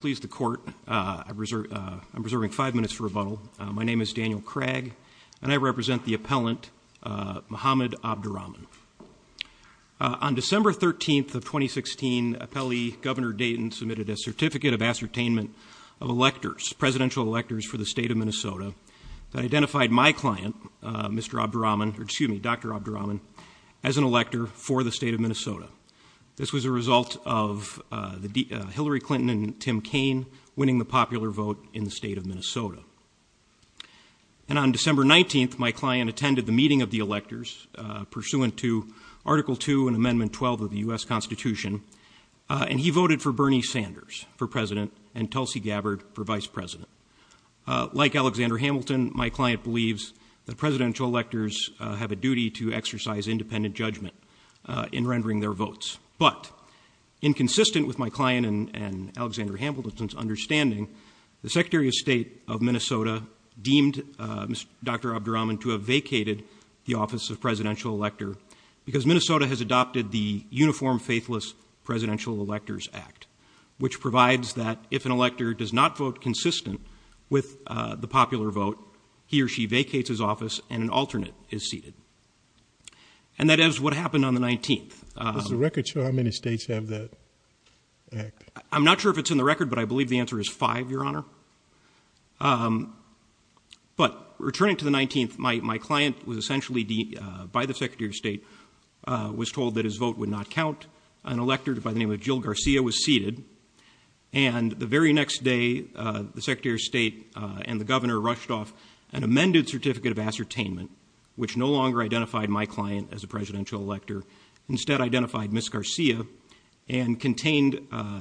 Please the court. I'm reserving five minutes for rebuttal. My name is Daniel Craig, and I represent the appellant Muhammad Abdurrahman On December 13th of 2016, appellee Governor Dayton submitted a certificate of ascertainment of electors, presidential electors, for the state of Minnesota that identified my client, Mr. Abdurrahman, or excuse me, Dr. Abdurrahman, as an elector for the state of Minnesota. This was a result of Hillary Clinton and Tim Kaine winning the popular vote in the state of Minnesota. And on December 19th, my client attended the meeting of the electors pursuant to Article 2 and Amendment 12 of the US Constitution, and he voted for Bernie Sanders for president and Tulsi Gabbard for vice president. Like Alexander Hamilton, my client believes that presidential electors have a duty to exercise independent judgment in rendering their votes, but inconsistent with my client and Alexander Hamilton's understanding, the Secretary of State of Minnesota deemed Dr. Abdurrahman to have vacated the office of presidential elector because Minnesota has adopted the Uniform Faithless Presidential Electors Act, which provides that if an elector does not vote consistent with the popular vote, he or she vacates his office and an alternate is seated. And that is what happened on the 19th. Does the record show how many states have that act? I'm not sure if it's in the record, but I believe the answer is five, Your Honor. But returning to the 19th, my client was essentially, by the Secretary of State, was told that his vote would not count. An elector by the name of Jill Garcia was seated, and the very next day, the Secretary of State and the governor rushed off an amended Certificate of Ascertainment, which no longer identified my client as a presidential elector. Instead, identified Ms. Garcia and contained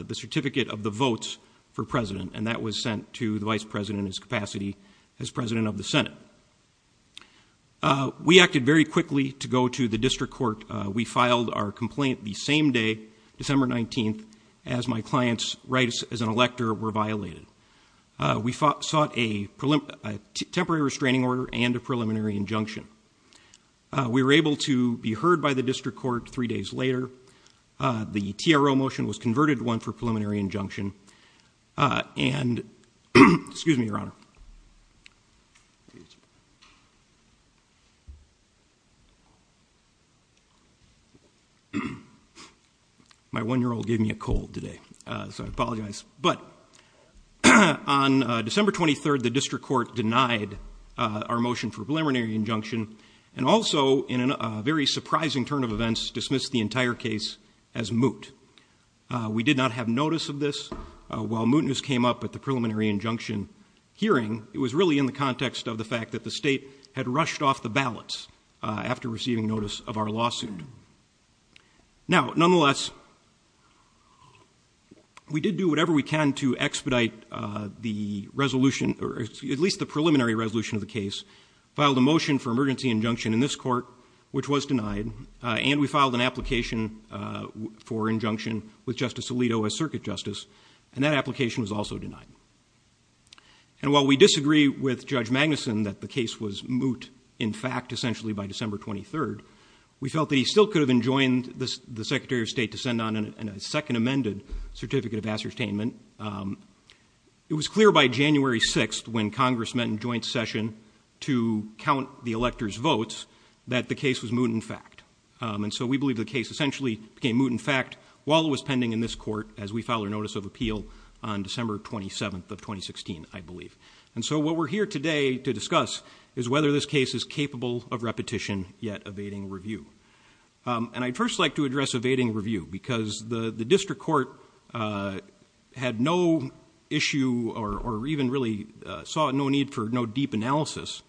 the Certificate of the Votes for President, and that was sent to the Vice President in his capacity as President of the Senate. We acted very quickly to go to the district court. We filed our complaint the same day, December 19th, as my client's rights as an elector were violated. We sought a temporary restraining order and a preliminary injunction. We were able to be heard by the district court three days later. The TRO motion was converted to one for preliminary injunction, excuse me, Your Honor. My one-year-old gave me a cold today, so I apologize, but on December 23rd, the district court denied our motion for preliminary injunction and also, in a very surprising turn of events, dismissed the entire case as moot. We did not have notice of this. While mootness came up at the preliminary injunction hearing, it was really in the context of the fact that the state had rushed off the ballots after receiving notice of our lawsuit. Now, nonetheless, we did do whatever we can to expedite the resolution, or at least the preliminary resolution of the case, filed a motion for emergency injunction in this court, which was denied, and we filed an application for injunction with Justice Alito as circuit justice, and that application was also denied. And while we disagree with Judge Magnuson that the case was moot, in fact, essentially by December 23rd, we felt that he still could have enjoined the Secretary of State to send on a second amended Certificate of Astertainment. It was clear by January 6th, when Congress met in joint session to count the electors' votes, that the case was moot, in fact. And so we believe the case essentially became moot, in fact, while it was pending in this court as we filed a notice of appeal on December 27th of 2016, I believe. And so what we're here today to discuss is whether this case is capable of repetition yet evading review. And I'd first like to address evading review because the the district court had no issue or even really saw no need for no deep analysis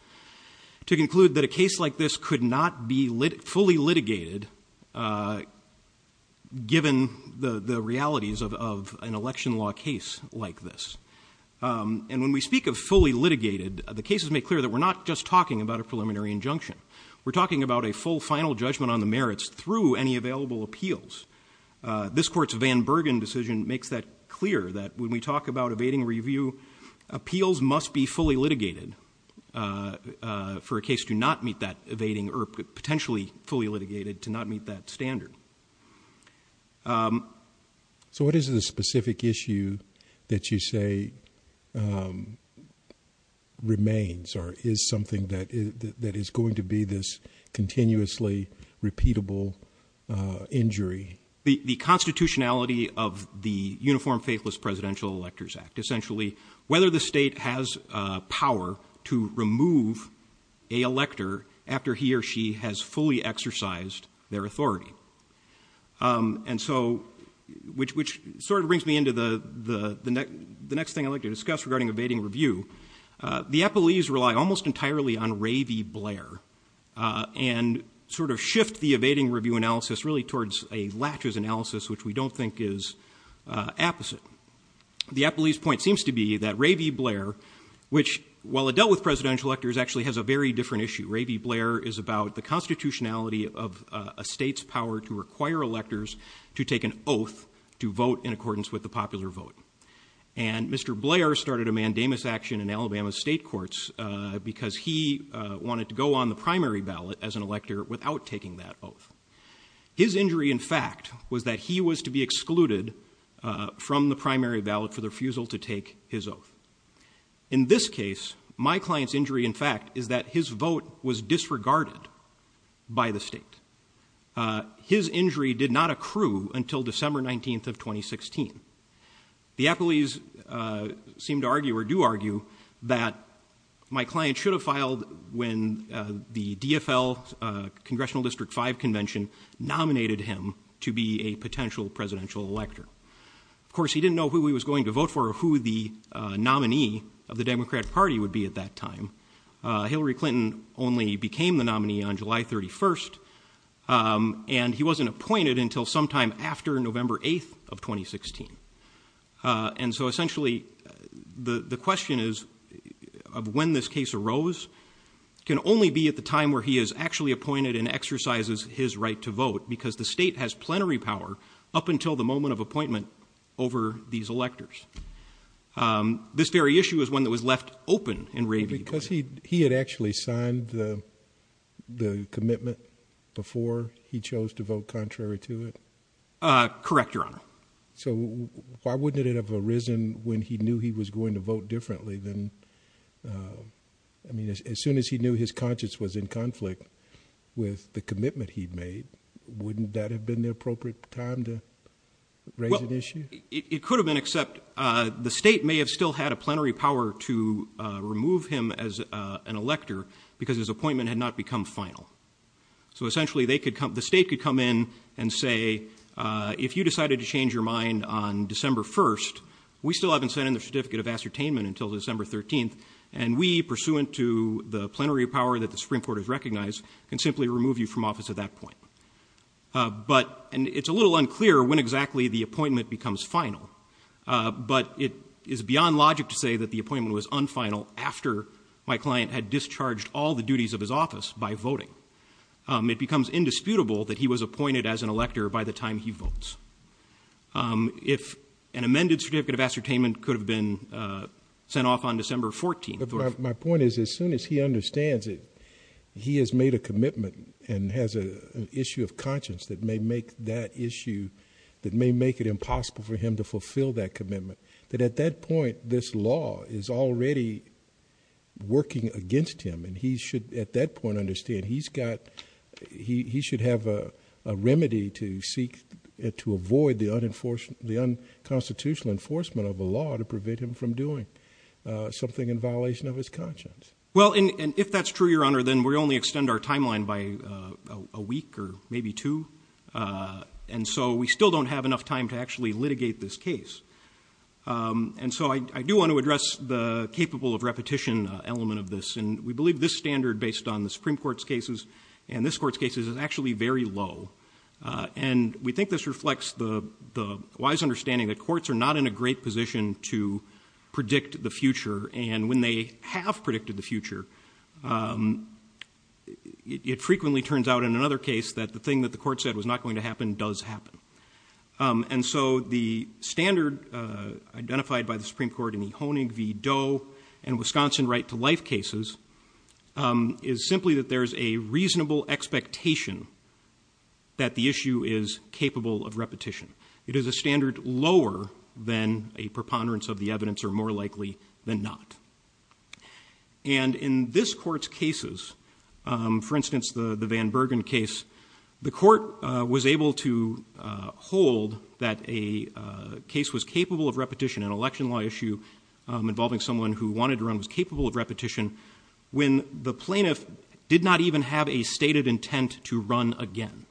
to conclude that a case like this could not be fully litigated given the the realities of an election law case like this. And when we speak of fully litigated, the cases make clear that we're not just talking about a preliminary injunction. We're talking about a full final judgment on the merits through any available appeals. This court's Van Bergen decision makes that clear, that when we talk about evading review, appeals must be fully litigated for a case to not meet that evading or potentially fully litigated to not meet that standard. So what is the specific issue that you say remains or is something that is going to be this continuously repeatable injury? The constitutionality of the Uniform Faithless Presidential Electors Act, essentially whether the state has power to remove a elector after he or she has fully exercised their authority. And so which sort of brings me into the next thing I'd like to discuss regarding evading review. The appellees rely almost entirely on Ravy Blair and sort of shift the evading review analysis really towards a latches analysis, which we don't think is opposite. The appellee's point seems to be that Ravy Blair, which, while it dealt with presidential electors, actually has a very different issue. Ravy Blair is about the constitutionality of a state's power to require electors to take an oath to vote in accordance with the popular vote. And Mr. Blair started a mandamus action in Alabama state courts because he wanted to go on the primary ballot as an elector without taking that oath. His injury, in fact, was that he was to be excluded from the primary ballot for the refusal to take his oath. In this case, my client's injury, in fact, is that his vote was disregarded by the state. His injury did not accrue until December 19th of 2016. The appellees seem to argue or do argue that my client should have filed when the DFL Congressional District 5 Convention nominated him to be a potential presidential elector. Of course, he didn't know who he was going to vote for or who the nominee of the Democratic Party would be at that time. Hillary Clinton only became the nominee on July 31st, and he wasn't appointed until sometime after November 8th of 2016. And so essentially, the question is of when this case arose can only be at the time where he is actually appointed and exercises his right to vote because the state has plenary power up until the moment of appointment over these electors. This very issue is one that was left open in Ray V. Because he had actually signed the commitment before he chose to vote contrary to it. Correct, Your Honor. So why wouldn't it have arisen when he knew he was going to vote differently than, I mean, as soon as he knew his conscience was in conflict with the commitment he'd made, wouldn't that have been the appropriate time to raise an issue? It could have been, except the state may have still had a plenary power to remove him as an elector because his appointment had not become final. So essentially, the state could come in and say, if you decided to change your mind on December 1st, we still haven't sent in the certificate of ascertainment until December 13th, and we, pursuant to the plenary power that the Supreme Court has recognized, can simply remove you from office at that point. And it's a little unclear when exactly the appointment becomes final, but it is beyond logic to say that the appointment was unfinal after my client had discharged all the duties of his office by voting. It becomes indisputable that he was appointed as an elector by the time he votes. If an amended certificate of ascertainment could have been sent off on December 14th. My point is, as soon as he understands it, he has made a commitment and has an issue of conscience that may make that issue, that may make it impossible for him to fulfill that commitment, that at that point, this law is already working against him. At that point, understand, he should have a remedy to seek to avoid the unconstitutional enforcement of a law to prevent him from doing something in violation of his conscience. Well, and if that's true, Your Honor, then we only extend our timeline by a week or maybe two. And so we still don't have enough time to actually litigate this case. And so I do want to address the capable of repetition element of this. And we believe this standard based on the Supreme Court's cases and this court's cases is actually very low. And we think this reflects the wise understanding that courts are not in a great position to predict the future. And when they have predicted the future, it frequently turns out in another case that the thing that the court said was not going to happen does happen. And Wisconsin right-to-life cases is simply that there's a reasonable expectation that the issue is capable of repetition. It is a standard lower than a preponderance of the evidence or more likely than not. And in this court's cases, for instance, the Van Bergen case, the court was able to hold that a case was capable of repetition, an election law issue involving someone who wanted to run was capable of repetition when the plaintiff did not even have a stated intent to run again.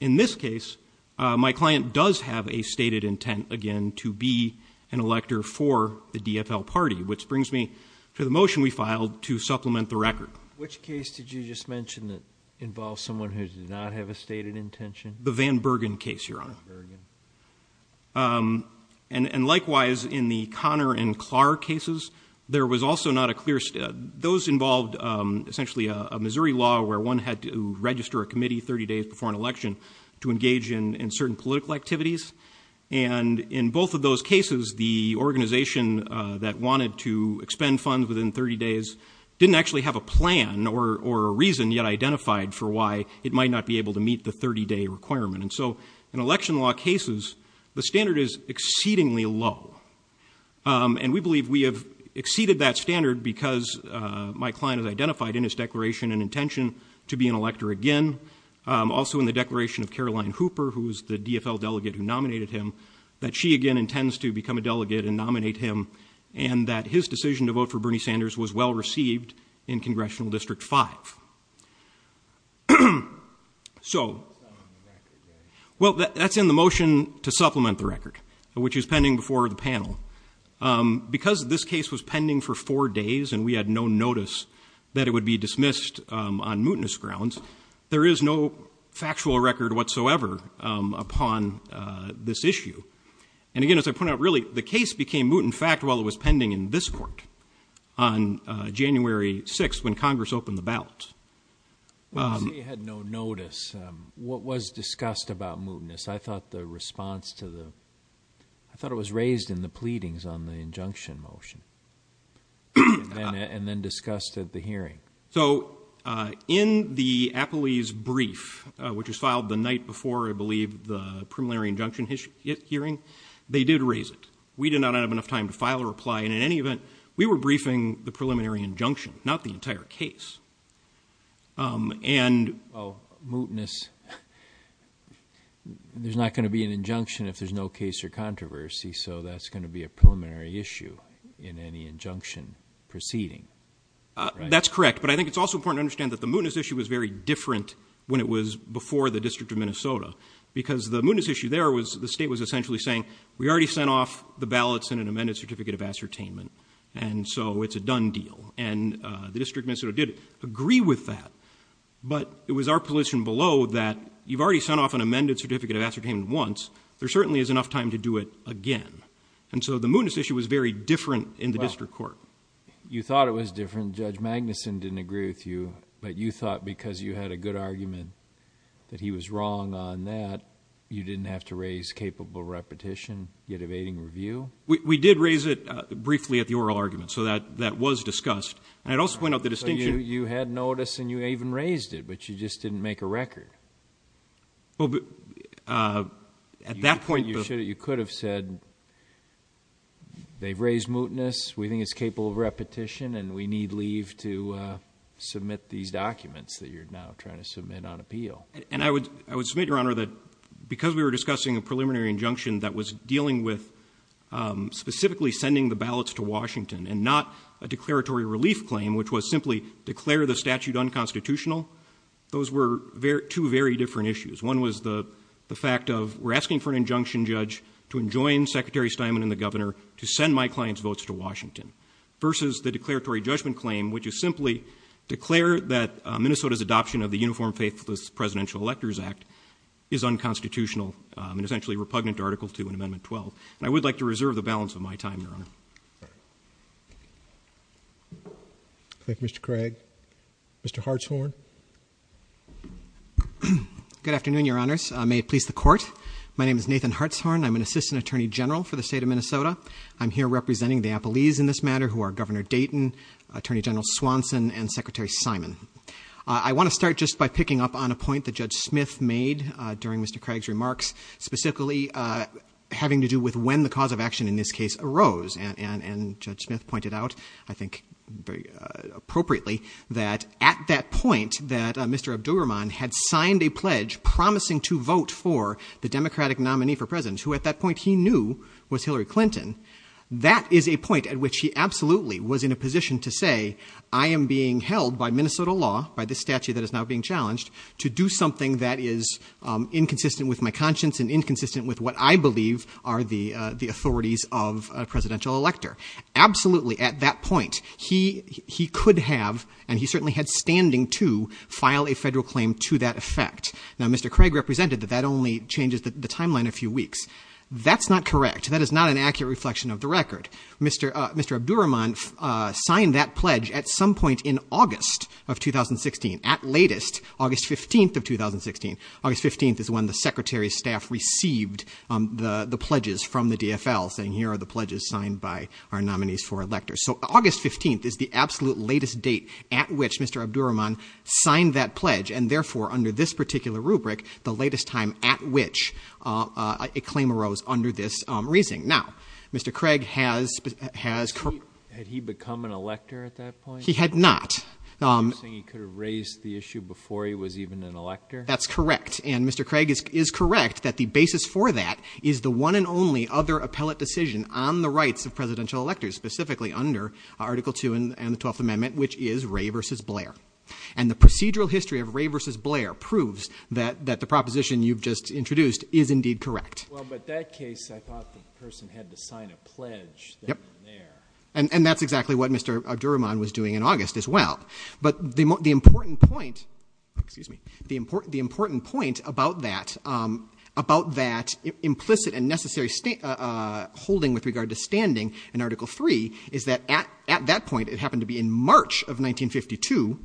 In this case, my client does have a stated intent again to be an elector for the DFL party, which brings me to the motion we filed to supplement the record. Which case did you just mention that involves someone who did not have a stated intention? The Van Bergen case, Your Honor. And likewise, in the Connor and Clark cases, there was also not a clear... Those involved essentially a Missouri law where one had to register a committee 30 days before an election to engage in certain political activities. And in both of those cases, the organization that wanted to expend funds within 30 days didn't actually have a plan or a reason yet identified for why it might not be able to meet the 30-day requirement. And so in election law cases, the standard is exceedingly low. And we believe we have exceeded that standard because my client has identified in his declaration and intention to be an elector again. Also in the declaration of Caroline Hooper, who was the DFL delegate who nominated him, that she again intends to become a delegate and nominate him, and that his decision to vote for Bernie Sanders was well received in Congressional District 5. So, well, that's in the motion to supplement the record, which is pending before the panel. Because this case was pending for four days and we had no notice that it would be dismissed on mootness grounds, there is no factual record whatsoever upon this issue. And again, as I point out, really, the case became moot, in fact, while it was pending in this court on January 6th when Congress opened the ballot. Well, you say you had no notice. What was discussed about mootness? I thought the response to the... I thought it was raised in the pleadings on the injunction motion and then discussed at the hearing. So in the Apole's brief, which was filed the night before, I believe, the preliminary injunction hearing, they did raise it. We did not have enough time to file a reply. And in any event, we were briefing the preliminary injunction, not the entire case. And mootness, there's not going to be an injunction if there's no case or controversy. So that's going to be a preliminary issue in any injunction proceeding. That's correct. But I think it's also important to understand that the mootness issue was very different when it was before the District of Minnesota. Because the mootness issue there was the state was essentially saying, we already sent off the ballots and an amended certificate of ascertainment. And so it's a done deal. And the District of Minnesota did agree with that. But it was our position below that you've already sent off an amended certificate of ascertainment once. There certainly is enough time to do it again. And so the mootness issue was very different in the district court. You thought it was different. Judge Magnuson didn't agree with you. But you thought because you had a good argument that he was wrong on that, you didn't have to raise capable repetition, yet evading review? We did raise it briefly at the oral argument. So that was discussed. And I'd also point out the distinction. You had notice and you even raised it. But you just didn't make a record. At that point, you could have said, they've raised mootness. We think it's capable of repetition. And we need leave to submit these documents that you're now trying to submit on appeal. And I would submit, Your Honor, that because we were discussing a preliminary injunction that was dealing with specifically sending the ballots to Washington and not a declaratory relief claim, which was simply declare the statute unconstitutional, those were two very different issues. One was the fact of, we're asking for an injunction judge to enjoin Secretary Steinman and the governor to send my client's votes to Washington versus the declaratory judgment claim, which is simply declare that Minnesota's adoption of the Uniform Faithless Presidential Electors Act is unconstitutional and essentially repugnant to Article 2 and Amendment 12. And I would like to reserve the balance of my time, Your Honor. Thank you, Mr. Craig. Mr. Hartshorn. Good afternoon, Your Honors. May it please the Court. My name is Nathan Hartshorn. I'm an Assistant Attorney General for the state of Minnesota. I'm here representing the Appalese in this matter, who are Governor Dayton, Attorney General Swanson, and Secretary Steinman. I want to start just by picking up on a point that Judge Smith made during Mr. Craig's remarks, specifically having to do with when the cause of action in this case arose. And Judge Smith pointed out, I think, very appropriately, that at that point, that Mr. Abdur Rahman had signed a pledge promising to vote for the Democratic nominee for president, who at that point he knew was Hillary Clinton. That is a point at which he absolutely was in a position to say, I am being held by Minnesota law, by this statute that is now being challenged, to do something that is inconsistent with my conscience and inconsistent with what I believe are the authorities of a presidential elector. Absolutely, at that point, he could have, and he certainly had standing to, file a federal claim to that effect. Now, Mr. Craig represented that that only changes the timeline a few weeks. That's not correct. That is not an accurate reflection of the record. Mr. Abdur Rahman signed that pledge at some point in August of 2016. At latest, August 15th of 2016. August 15th is when the secretary's staff received the pledges from the DFL, saying here are the pledges signed by our nominees for electors. So August 15th is the absolute latest date at which Mr. Abdur Rahman signed that pledge, and therefore, under this particular rubric, the latest time at which a claim arose under this reasoning. Now, Mr. Craig has... Had he become an elector at that point? He had not. He could have raised the issue before he was even an elector? That's correct. And Mr. Craig is correct that the basis for that is the one and only other appellate decision on the rights of presidential electors, specifically under Article II and the 12th Amendment, which is Wray v. Blair. And the procedural history of Wray v. Blair proves that the proposition you've just introduced is indeed correct. Well, but that case, I thought the person had to sign a pledge there. And that's exactly what Mr. Abdur Rahman was doing in August as well. But the important point... Excuse me. The important point about that implicit and necessary holding with regard to standing in Article III is that at that point, it happened to be in March of 1952,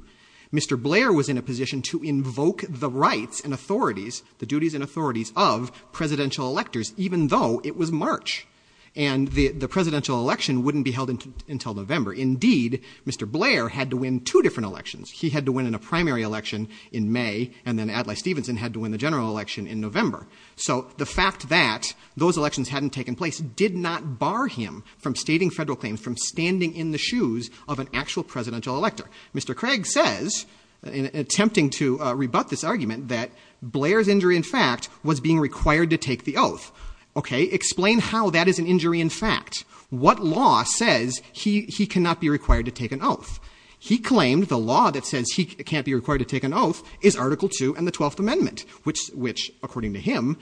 Mr. Blair was in a position to invoke the rights and authorities, the duties and authorities of presidential electors, even though it was March. And the presidential election wouldn't be held until November. Indeed, Mr. Blair had to win two different elections. He had to win in a primary election in May, and then Adlai Stevenson had to win the general election in November. So the fact that those elections hadn't taken place did not bar him from stating federal claims, from standing in the shoes of an actual presidential elector. Mr. Craig says, attempting to rebut this argument, that Blair's injury, in fact, was being required to take the oath. OK, explain how that is an injury, in fact. What law says he cannot be required to take an oath? He claimed the law that says he can't be required to take an oath is Article II and the 12th Amendment, which, according to him,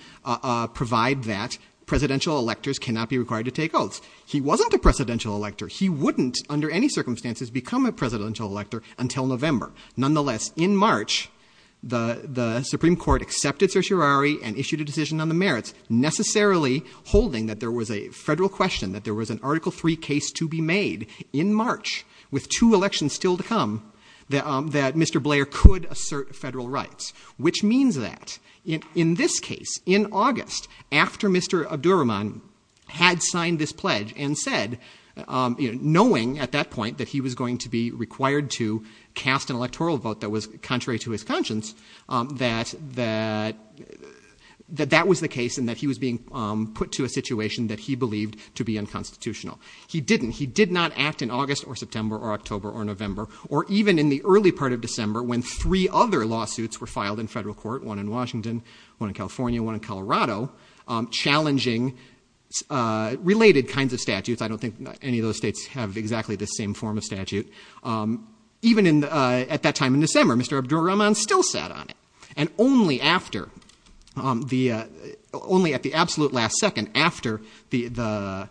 provide that presidential electors cannot be required to take oaths. He wasn't a presidential elector. He wouldn't, under any circumstances, become a presidential elector until November. Nonetheless, in March, the Supreme Court accepted certiorari and issued a decision on the merits, necessarily holding that there was a federal question, that there was an Article III case to be made in March, with two elections still to come, that Mr. Blair could assert federal rights. Which means that, in this case, in August, after Mr. Abdurrahman had signed this pledge and said, knowing at that point that he was going to be required to cast an electoral vote that was contrary to his conscience, that that was the case, and that he was being put to a situation that he believed to be unconstitutional. He didn't. He did not act in August or September or October or November, or even in the early part of December, when three other lawsuits were filed in federal court, one in Washington, one in California, one in Colorado, challenging related kinds of statutes. I don't think any of those states have exactly the same form of statute. Even at that time in December, Mr. Abdurrahman still sat on it. And only at the absolute last second, after the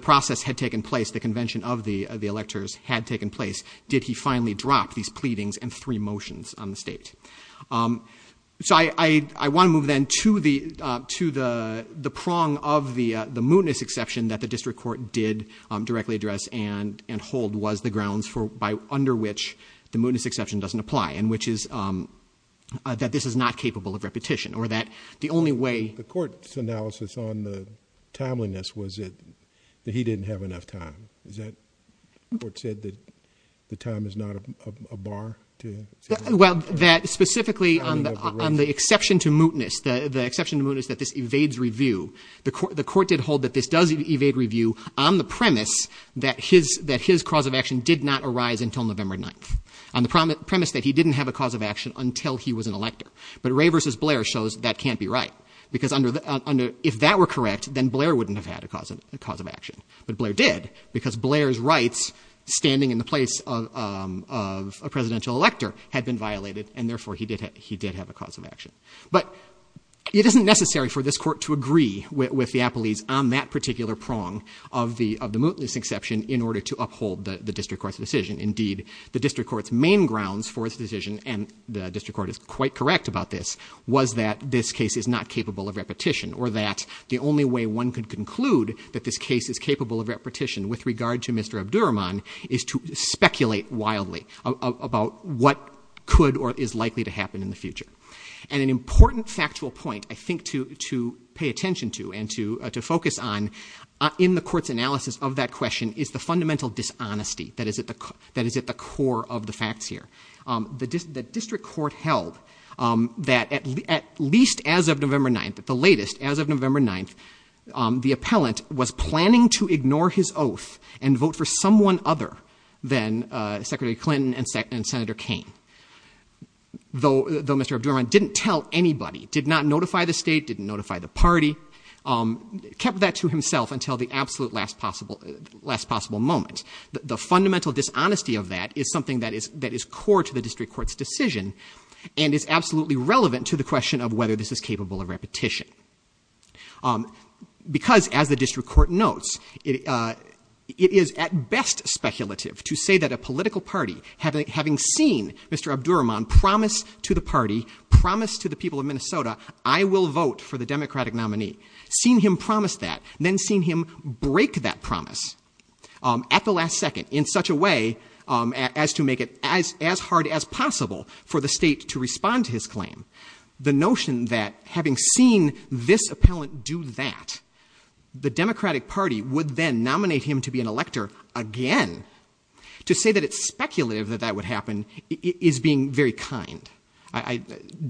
process had taken place, the convention of the electors had taken place, did he finally drop these pleadings and three motions on the state. So I want to move then to the prong of the mootness exception that the district court did directly address and hold was the grounds under which the mootness exception doesn't apply, and which is that this is not capable of repetition, or that the only way- The court's analysis on the timeliness was that he didn't have enough time. Is that what the court said, that the time is not a bar to- Well, that specifically on the exception to mootness, the exception to mootness that this evades review, the court did hold that this does evade review on the premise that his cause of action did not arise until November 9th, on the premise that he didn't have a cause of action until he was an elector. But Ray v. Blair shows that can't be right, because if that were correct, then Blair wouldn't have had a cause of action. But Blair did, because Blair's rights, standing in the place of a presidential elector, But it isn't necessary for this court to agree with the appellees on that particular prong of the mootness exception in order to uphold the district court's decision. Indeed, the district court's main grounds for this decision, and the district court is quite correct about this, was that this case is not capable of repetition, or that the only way one could conclude that this case is capable of repetition with regard to Mr. Abdurahman is to speculate wildly about what could or is likely to happen in the future. And an important factual point, I think, to pay attention to, and to focus on in the court's analysis of that question, is the fundamental dishonesty that is at the core of the facts here. The district court held that at least as of November 9th, the latest, as of November 9th, the appellant was planning to ignore his oath and vote for someone other than Secretary Clinton and Senator Kaine. Though Mr. Abdurahman didn't tell anybody, did not notify the state, didn't notify the party, kept that to himself until the absolute last possible moment. The fundamental dishonesty of that is something that is core to the district court's decision, and is absolutely relevant to the question of whether this is capable of repetition. Because, as the district court notes, it is at best speculative to say that a political party, having seen Mr. Abdurahman promise to the party, promise to the people of Minnesota, I will vote for the Democratic nominee, seen him promise that, then seen him break that promise at the last second, in such a way as to make it as hard as possible for the state to respond to his claim. The notion that having seen this appellant do that, the Democratic party would then nominate him to be an elector again. To say that it's speculative that that would happen is being very kind.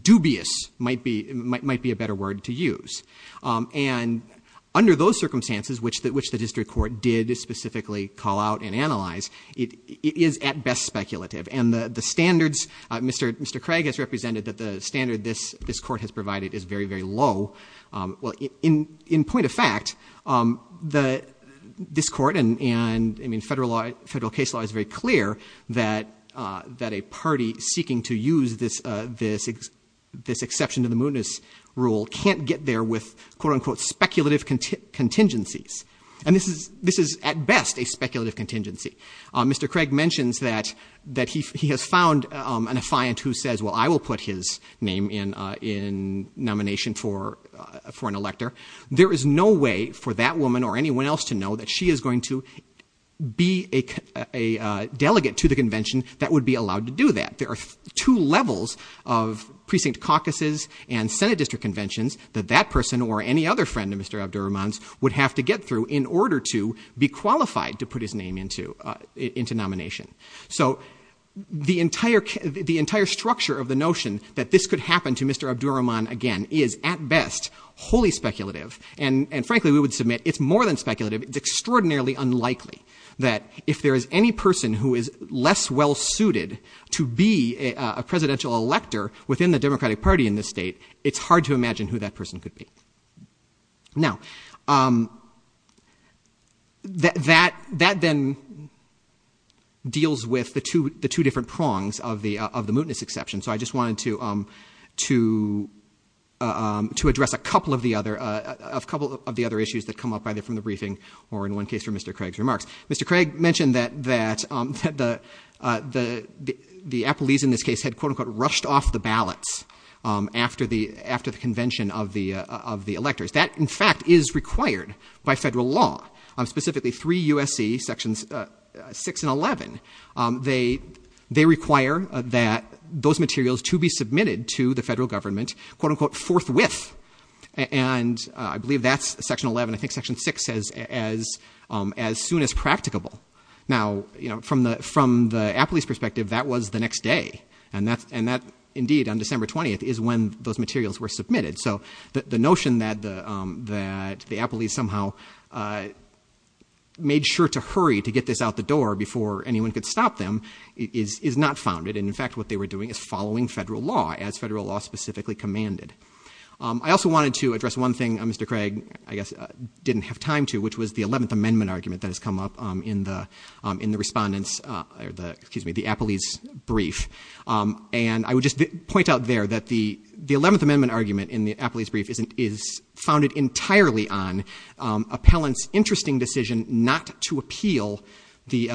Dubious might be a better word to use. And under those circumstances, which the district court did specifically call out and analyze, it is at best speculative. And the standards Mr. Craig has represented, that the standard this court has provided is very, very low. Well, in point of fact, this court and federal case law is very clear that a party seeking to use this exception to the mootness rule can't get there with, quote unquote, speculative contingencies. And this is at best a speculative contingency. Mr. Craig mentions that he has found an affiant who says, well, I will put his name in nomination for an elector. There is no way for that woman or anyone else to know that she is going to be a delegate to the convention that would be allowed to do that. There are two levels of precinct caucuses and senate district conventions that that person or any other friend of Mr. Abdur Rahman's would have to get through in order to be qualified to put his name into nomination. So the entire structure of the notion that this could happen to Mr. Abdur Rahman again is at best wholly speculative. And frankly, we would submit it's more than speculative. It's extraordinarily unlikely that if there is any person who is less well-suited to be a presidential elector within the Democratic Party in this state, it's hard to imagine who that person could be. Now, that then deals with the two different prongs of the mootness exception. So I just wanted to address a couple of the other issues that come up either from the briefing or in one case from Mr. Craig's remarks. Mr. Craig mentioned that the Appellees in this case had, quote unquote, rushed off the ballots after the convention of the electors. That, in fact, is required by federal law. Specifically, three USC, sections 6 and 11, they require that those materials to be submitted to the federal government, quote unquote, forthwith. And I believe that's section 11. I think section 6 says as soon as practicable. Now, from the Appellees' perspective, that was the next day. And that, indeed, on December 20th is when those materials were submitted. made sure to hurry to get this out the door before anyone could stop them is not founded. And, in fact, what they were doing is following federal law, as federal law specifically commanded. I also wanted to address one thing Mr. Craig, I guess, didn't have time to, which was the 11th Amendment argument that has come up in the Appellees' brief. And I would just point out there that the 11th Amendment argument in the Appellees' brief is founded entirely on appellant's interesting decision not to appeal the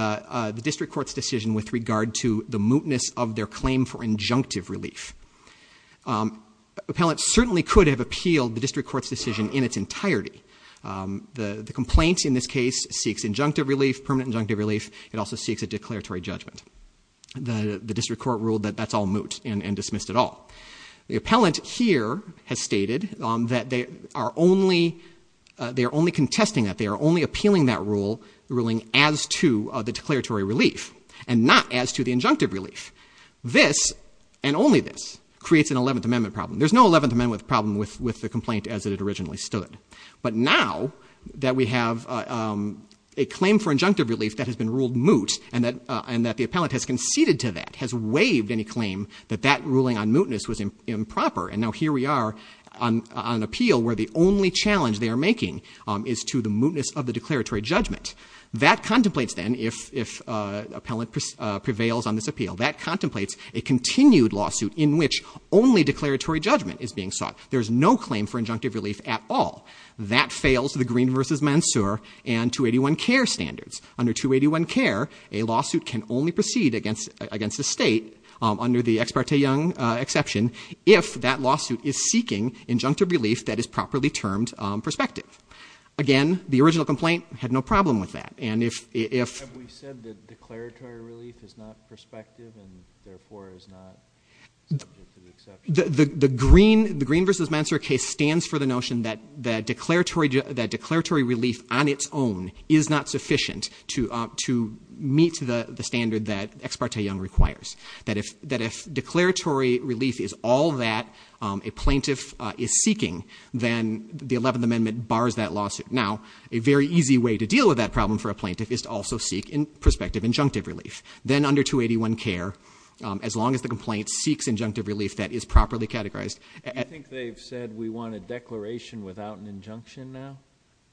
district court's decision with regard to the mootness of their claim for injunctive relief. Appellant certainly could have appealed the district court's decision in its entirety. The complaint in this case seeks injunctive relief, permanent injunctive relief. It also seeks a declaratory judgment. The district court ruled that that's all moot and dismissed it all. The appellant here has stated that they are only contesting that they are only appealing that ruling as to the declaratory relief and not as to the injunctive relief. This and only this creates an 11th Amendment problem. There's no 11th Amendment problem with the complaint as it originally stood. But now that we have a claim for injunctive relief that has been ruled moot and that the appellant has conceded to that, has waived any claim that that ruling on mootness was improper. And now here we are on an appeal where the only challenge they are making is to the mootness of the declaratory judgment. That contemplates then, if appellant prevails on this appeal, that contemplates a continued lawsuit in which only declaratory judgment is being sought. There is no claim for injunctive relief at all. That fails the Green v. Mansour and 281 CARE standards. Under 281 CARE, a lawsuit can only proceed against a state under the Ex parte Young exception if that lawsuit is seeking injunctive relief that is properly termed prospective. Again, the original complaint had no problem with that. And if we said that declaratory relief is not prospective and therefore is not subject to the exception. The Green v. Mansour case stands for the notion that declaratory relief on its own is not sufficient to meet the standard that Ex parte Young requires. That if declaratory relief is all that a plaintiff is seeking, then the 11th Amendment bars that lawsuit. Now, a very easy way to deal with that problem for a plaintiff is to also seek prospective injunctive relief. Then under 281 CARE, as long as the complaint seeks injunctive relief that is properly categorized. Do you think they've said we want a declaration without an injunction now?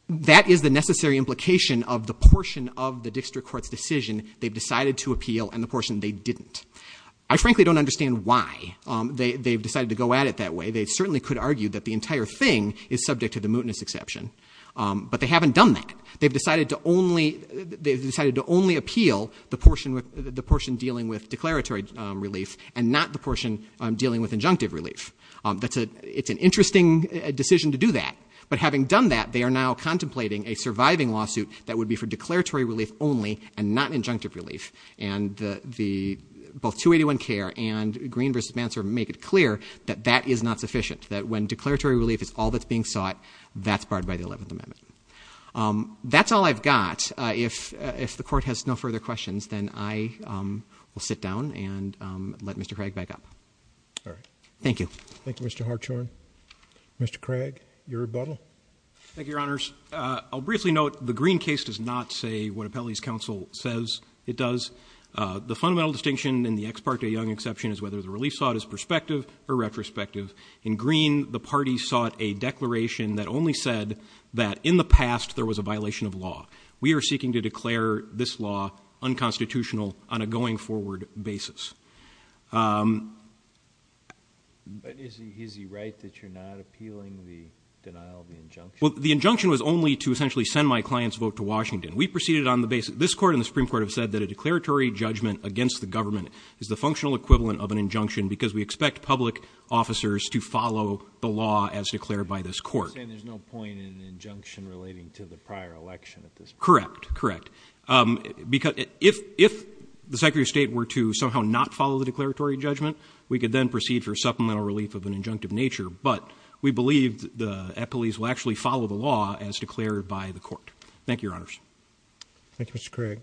That is the necessary implication of the portion of the district court's decision they've decided to appeal and the portion they didn't. I frankly don't understand why they've decided to go at it that way. They certainly could argue that the entire thing is subject to the mootness exception. But they haven't done that. They've decided to only appeal the portion dealing with declaratory relief and not the portion dealing with injunctive relief. It's an interesting decision to do that. But having done that, they are now contemplating a surviving lawsuit that would be for declaratory relief only and not injunctive relief. And both 281 CARE and Green v. Mansour make it clear that that is not sufficient, that when declaratory relief is all that's being sought, that's barred by the 11th Amendment. That's all I've got. If the court has no further questions, then I will sit down and let Mr. Craig back up. Thank you. Thank you, Mr. Hartshorn. Mr. Craig, your rebuttal. Thank you, Your Honors. I'll briefly note the Green case does not say what Appellee's counsel says it does. The fundamental distinction in the ex parte young exception is whether the relief sought is prospective or retrospective. In Green, the party sought a declaration that only said that in the past, there was a violation of law. We are seeking to declare this law unconstitutional on a going forward basis. Is he right that you're not appealing the denial of the injunction? Well, the injunction was only to essentially send my client's vote to Washington. We proceeded on the basis, this court and the Supreme Court have said that a declaratory judgment against the government is the functional equivalent of an injunction because we expect public officers to follow the law as declared by this court. You're saying there's no point in an injunction relating to the prior election at this point? Correct. Correct. If the Secretary of State were to somehow not follow the declaratory judgment, we could then proceed for supplemental relief of an injunctive nature. But we believe the Appellees will actually follow the law as declared by the court. Thank you, Your Honors. Thank you, Mr. Craig.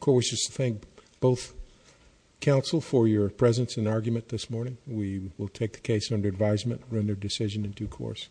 Court wishes to thank both counsel for your presence and argument this morning. We will take the case under advisement, render decision in due course.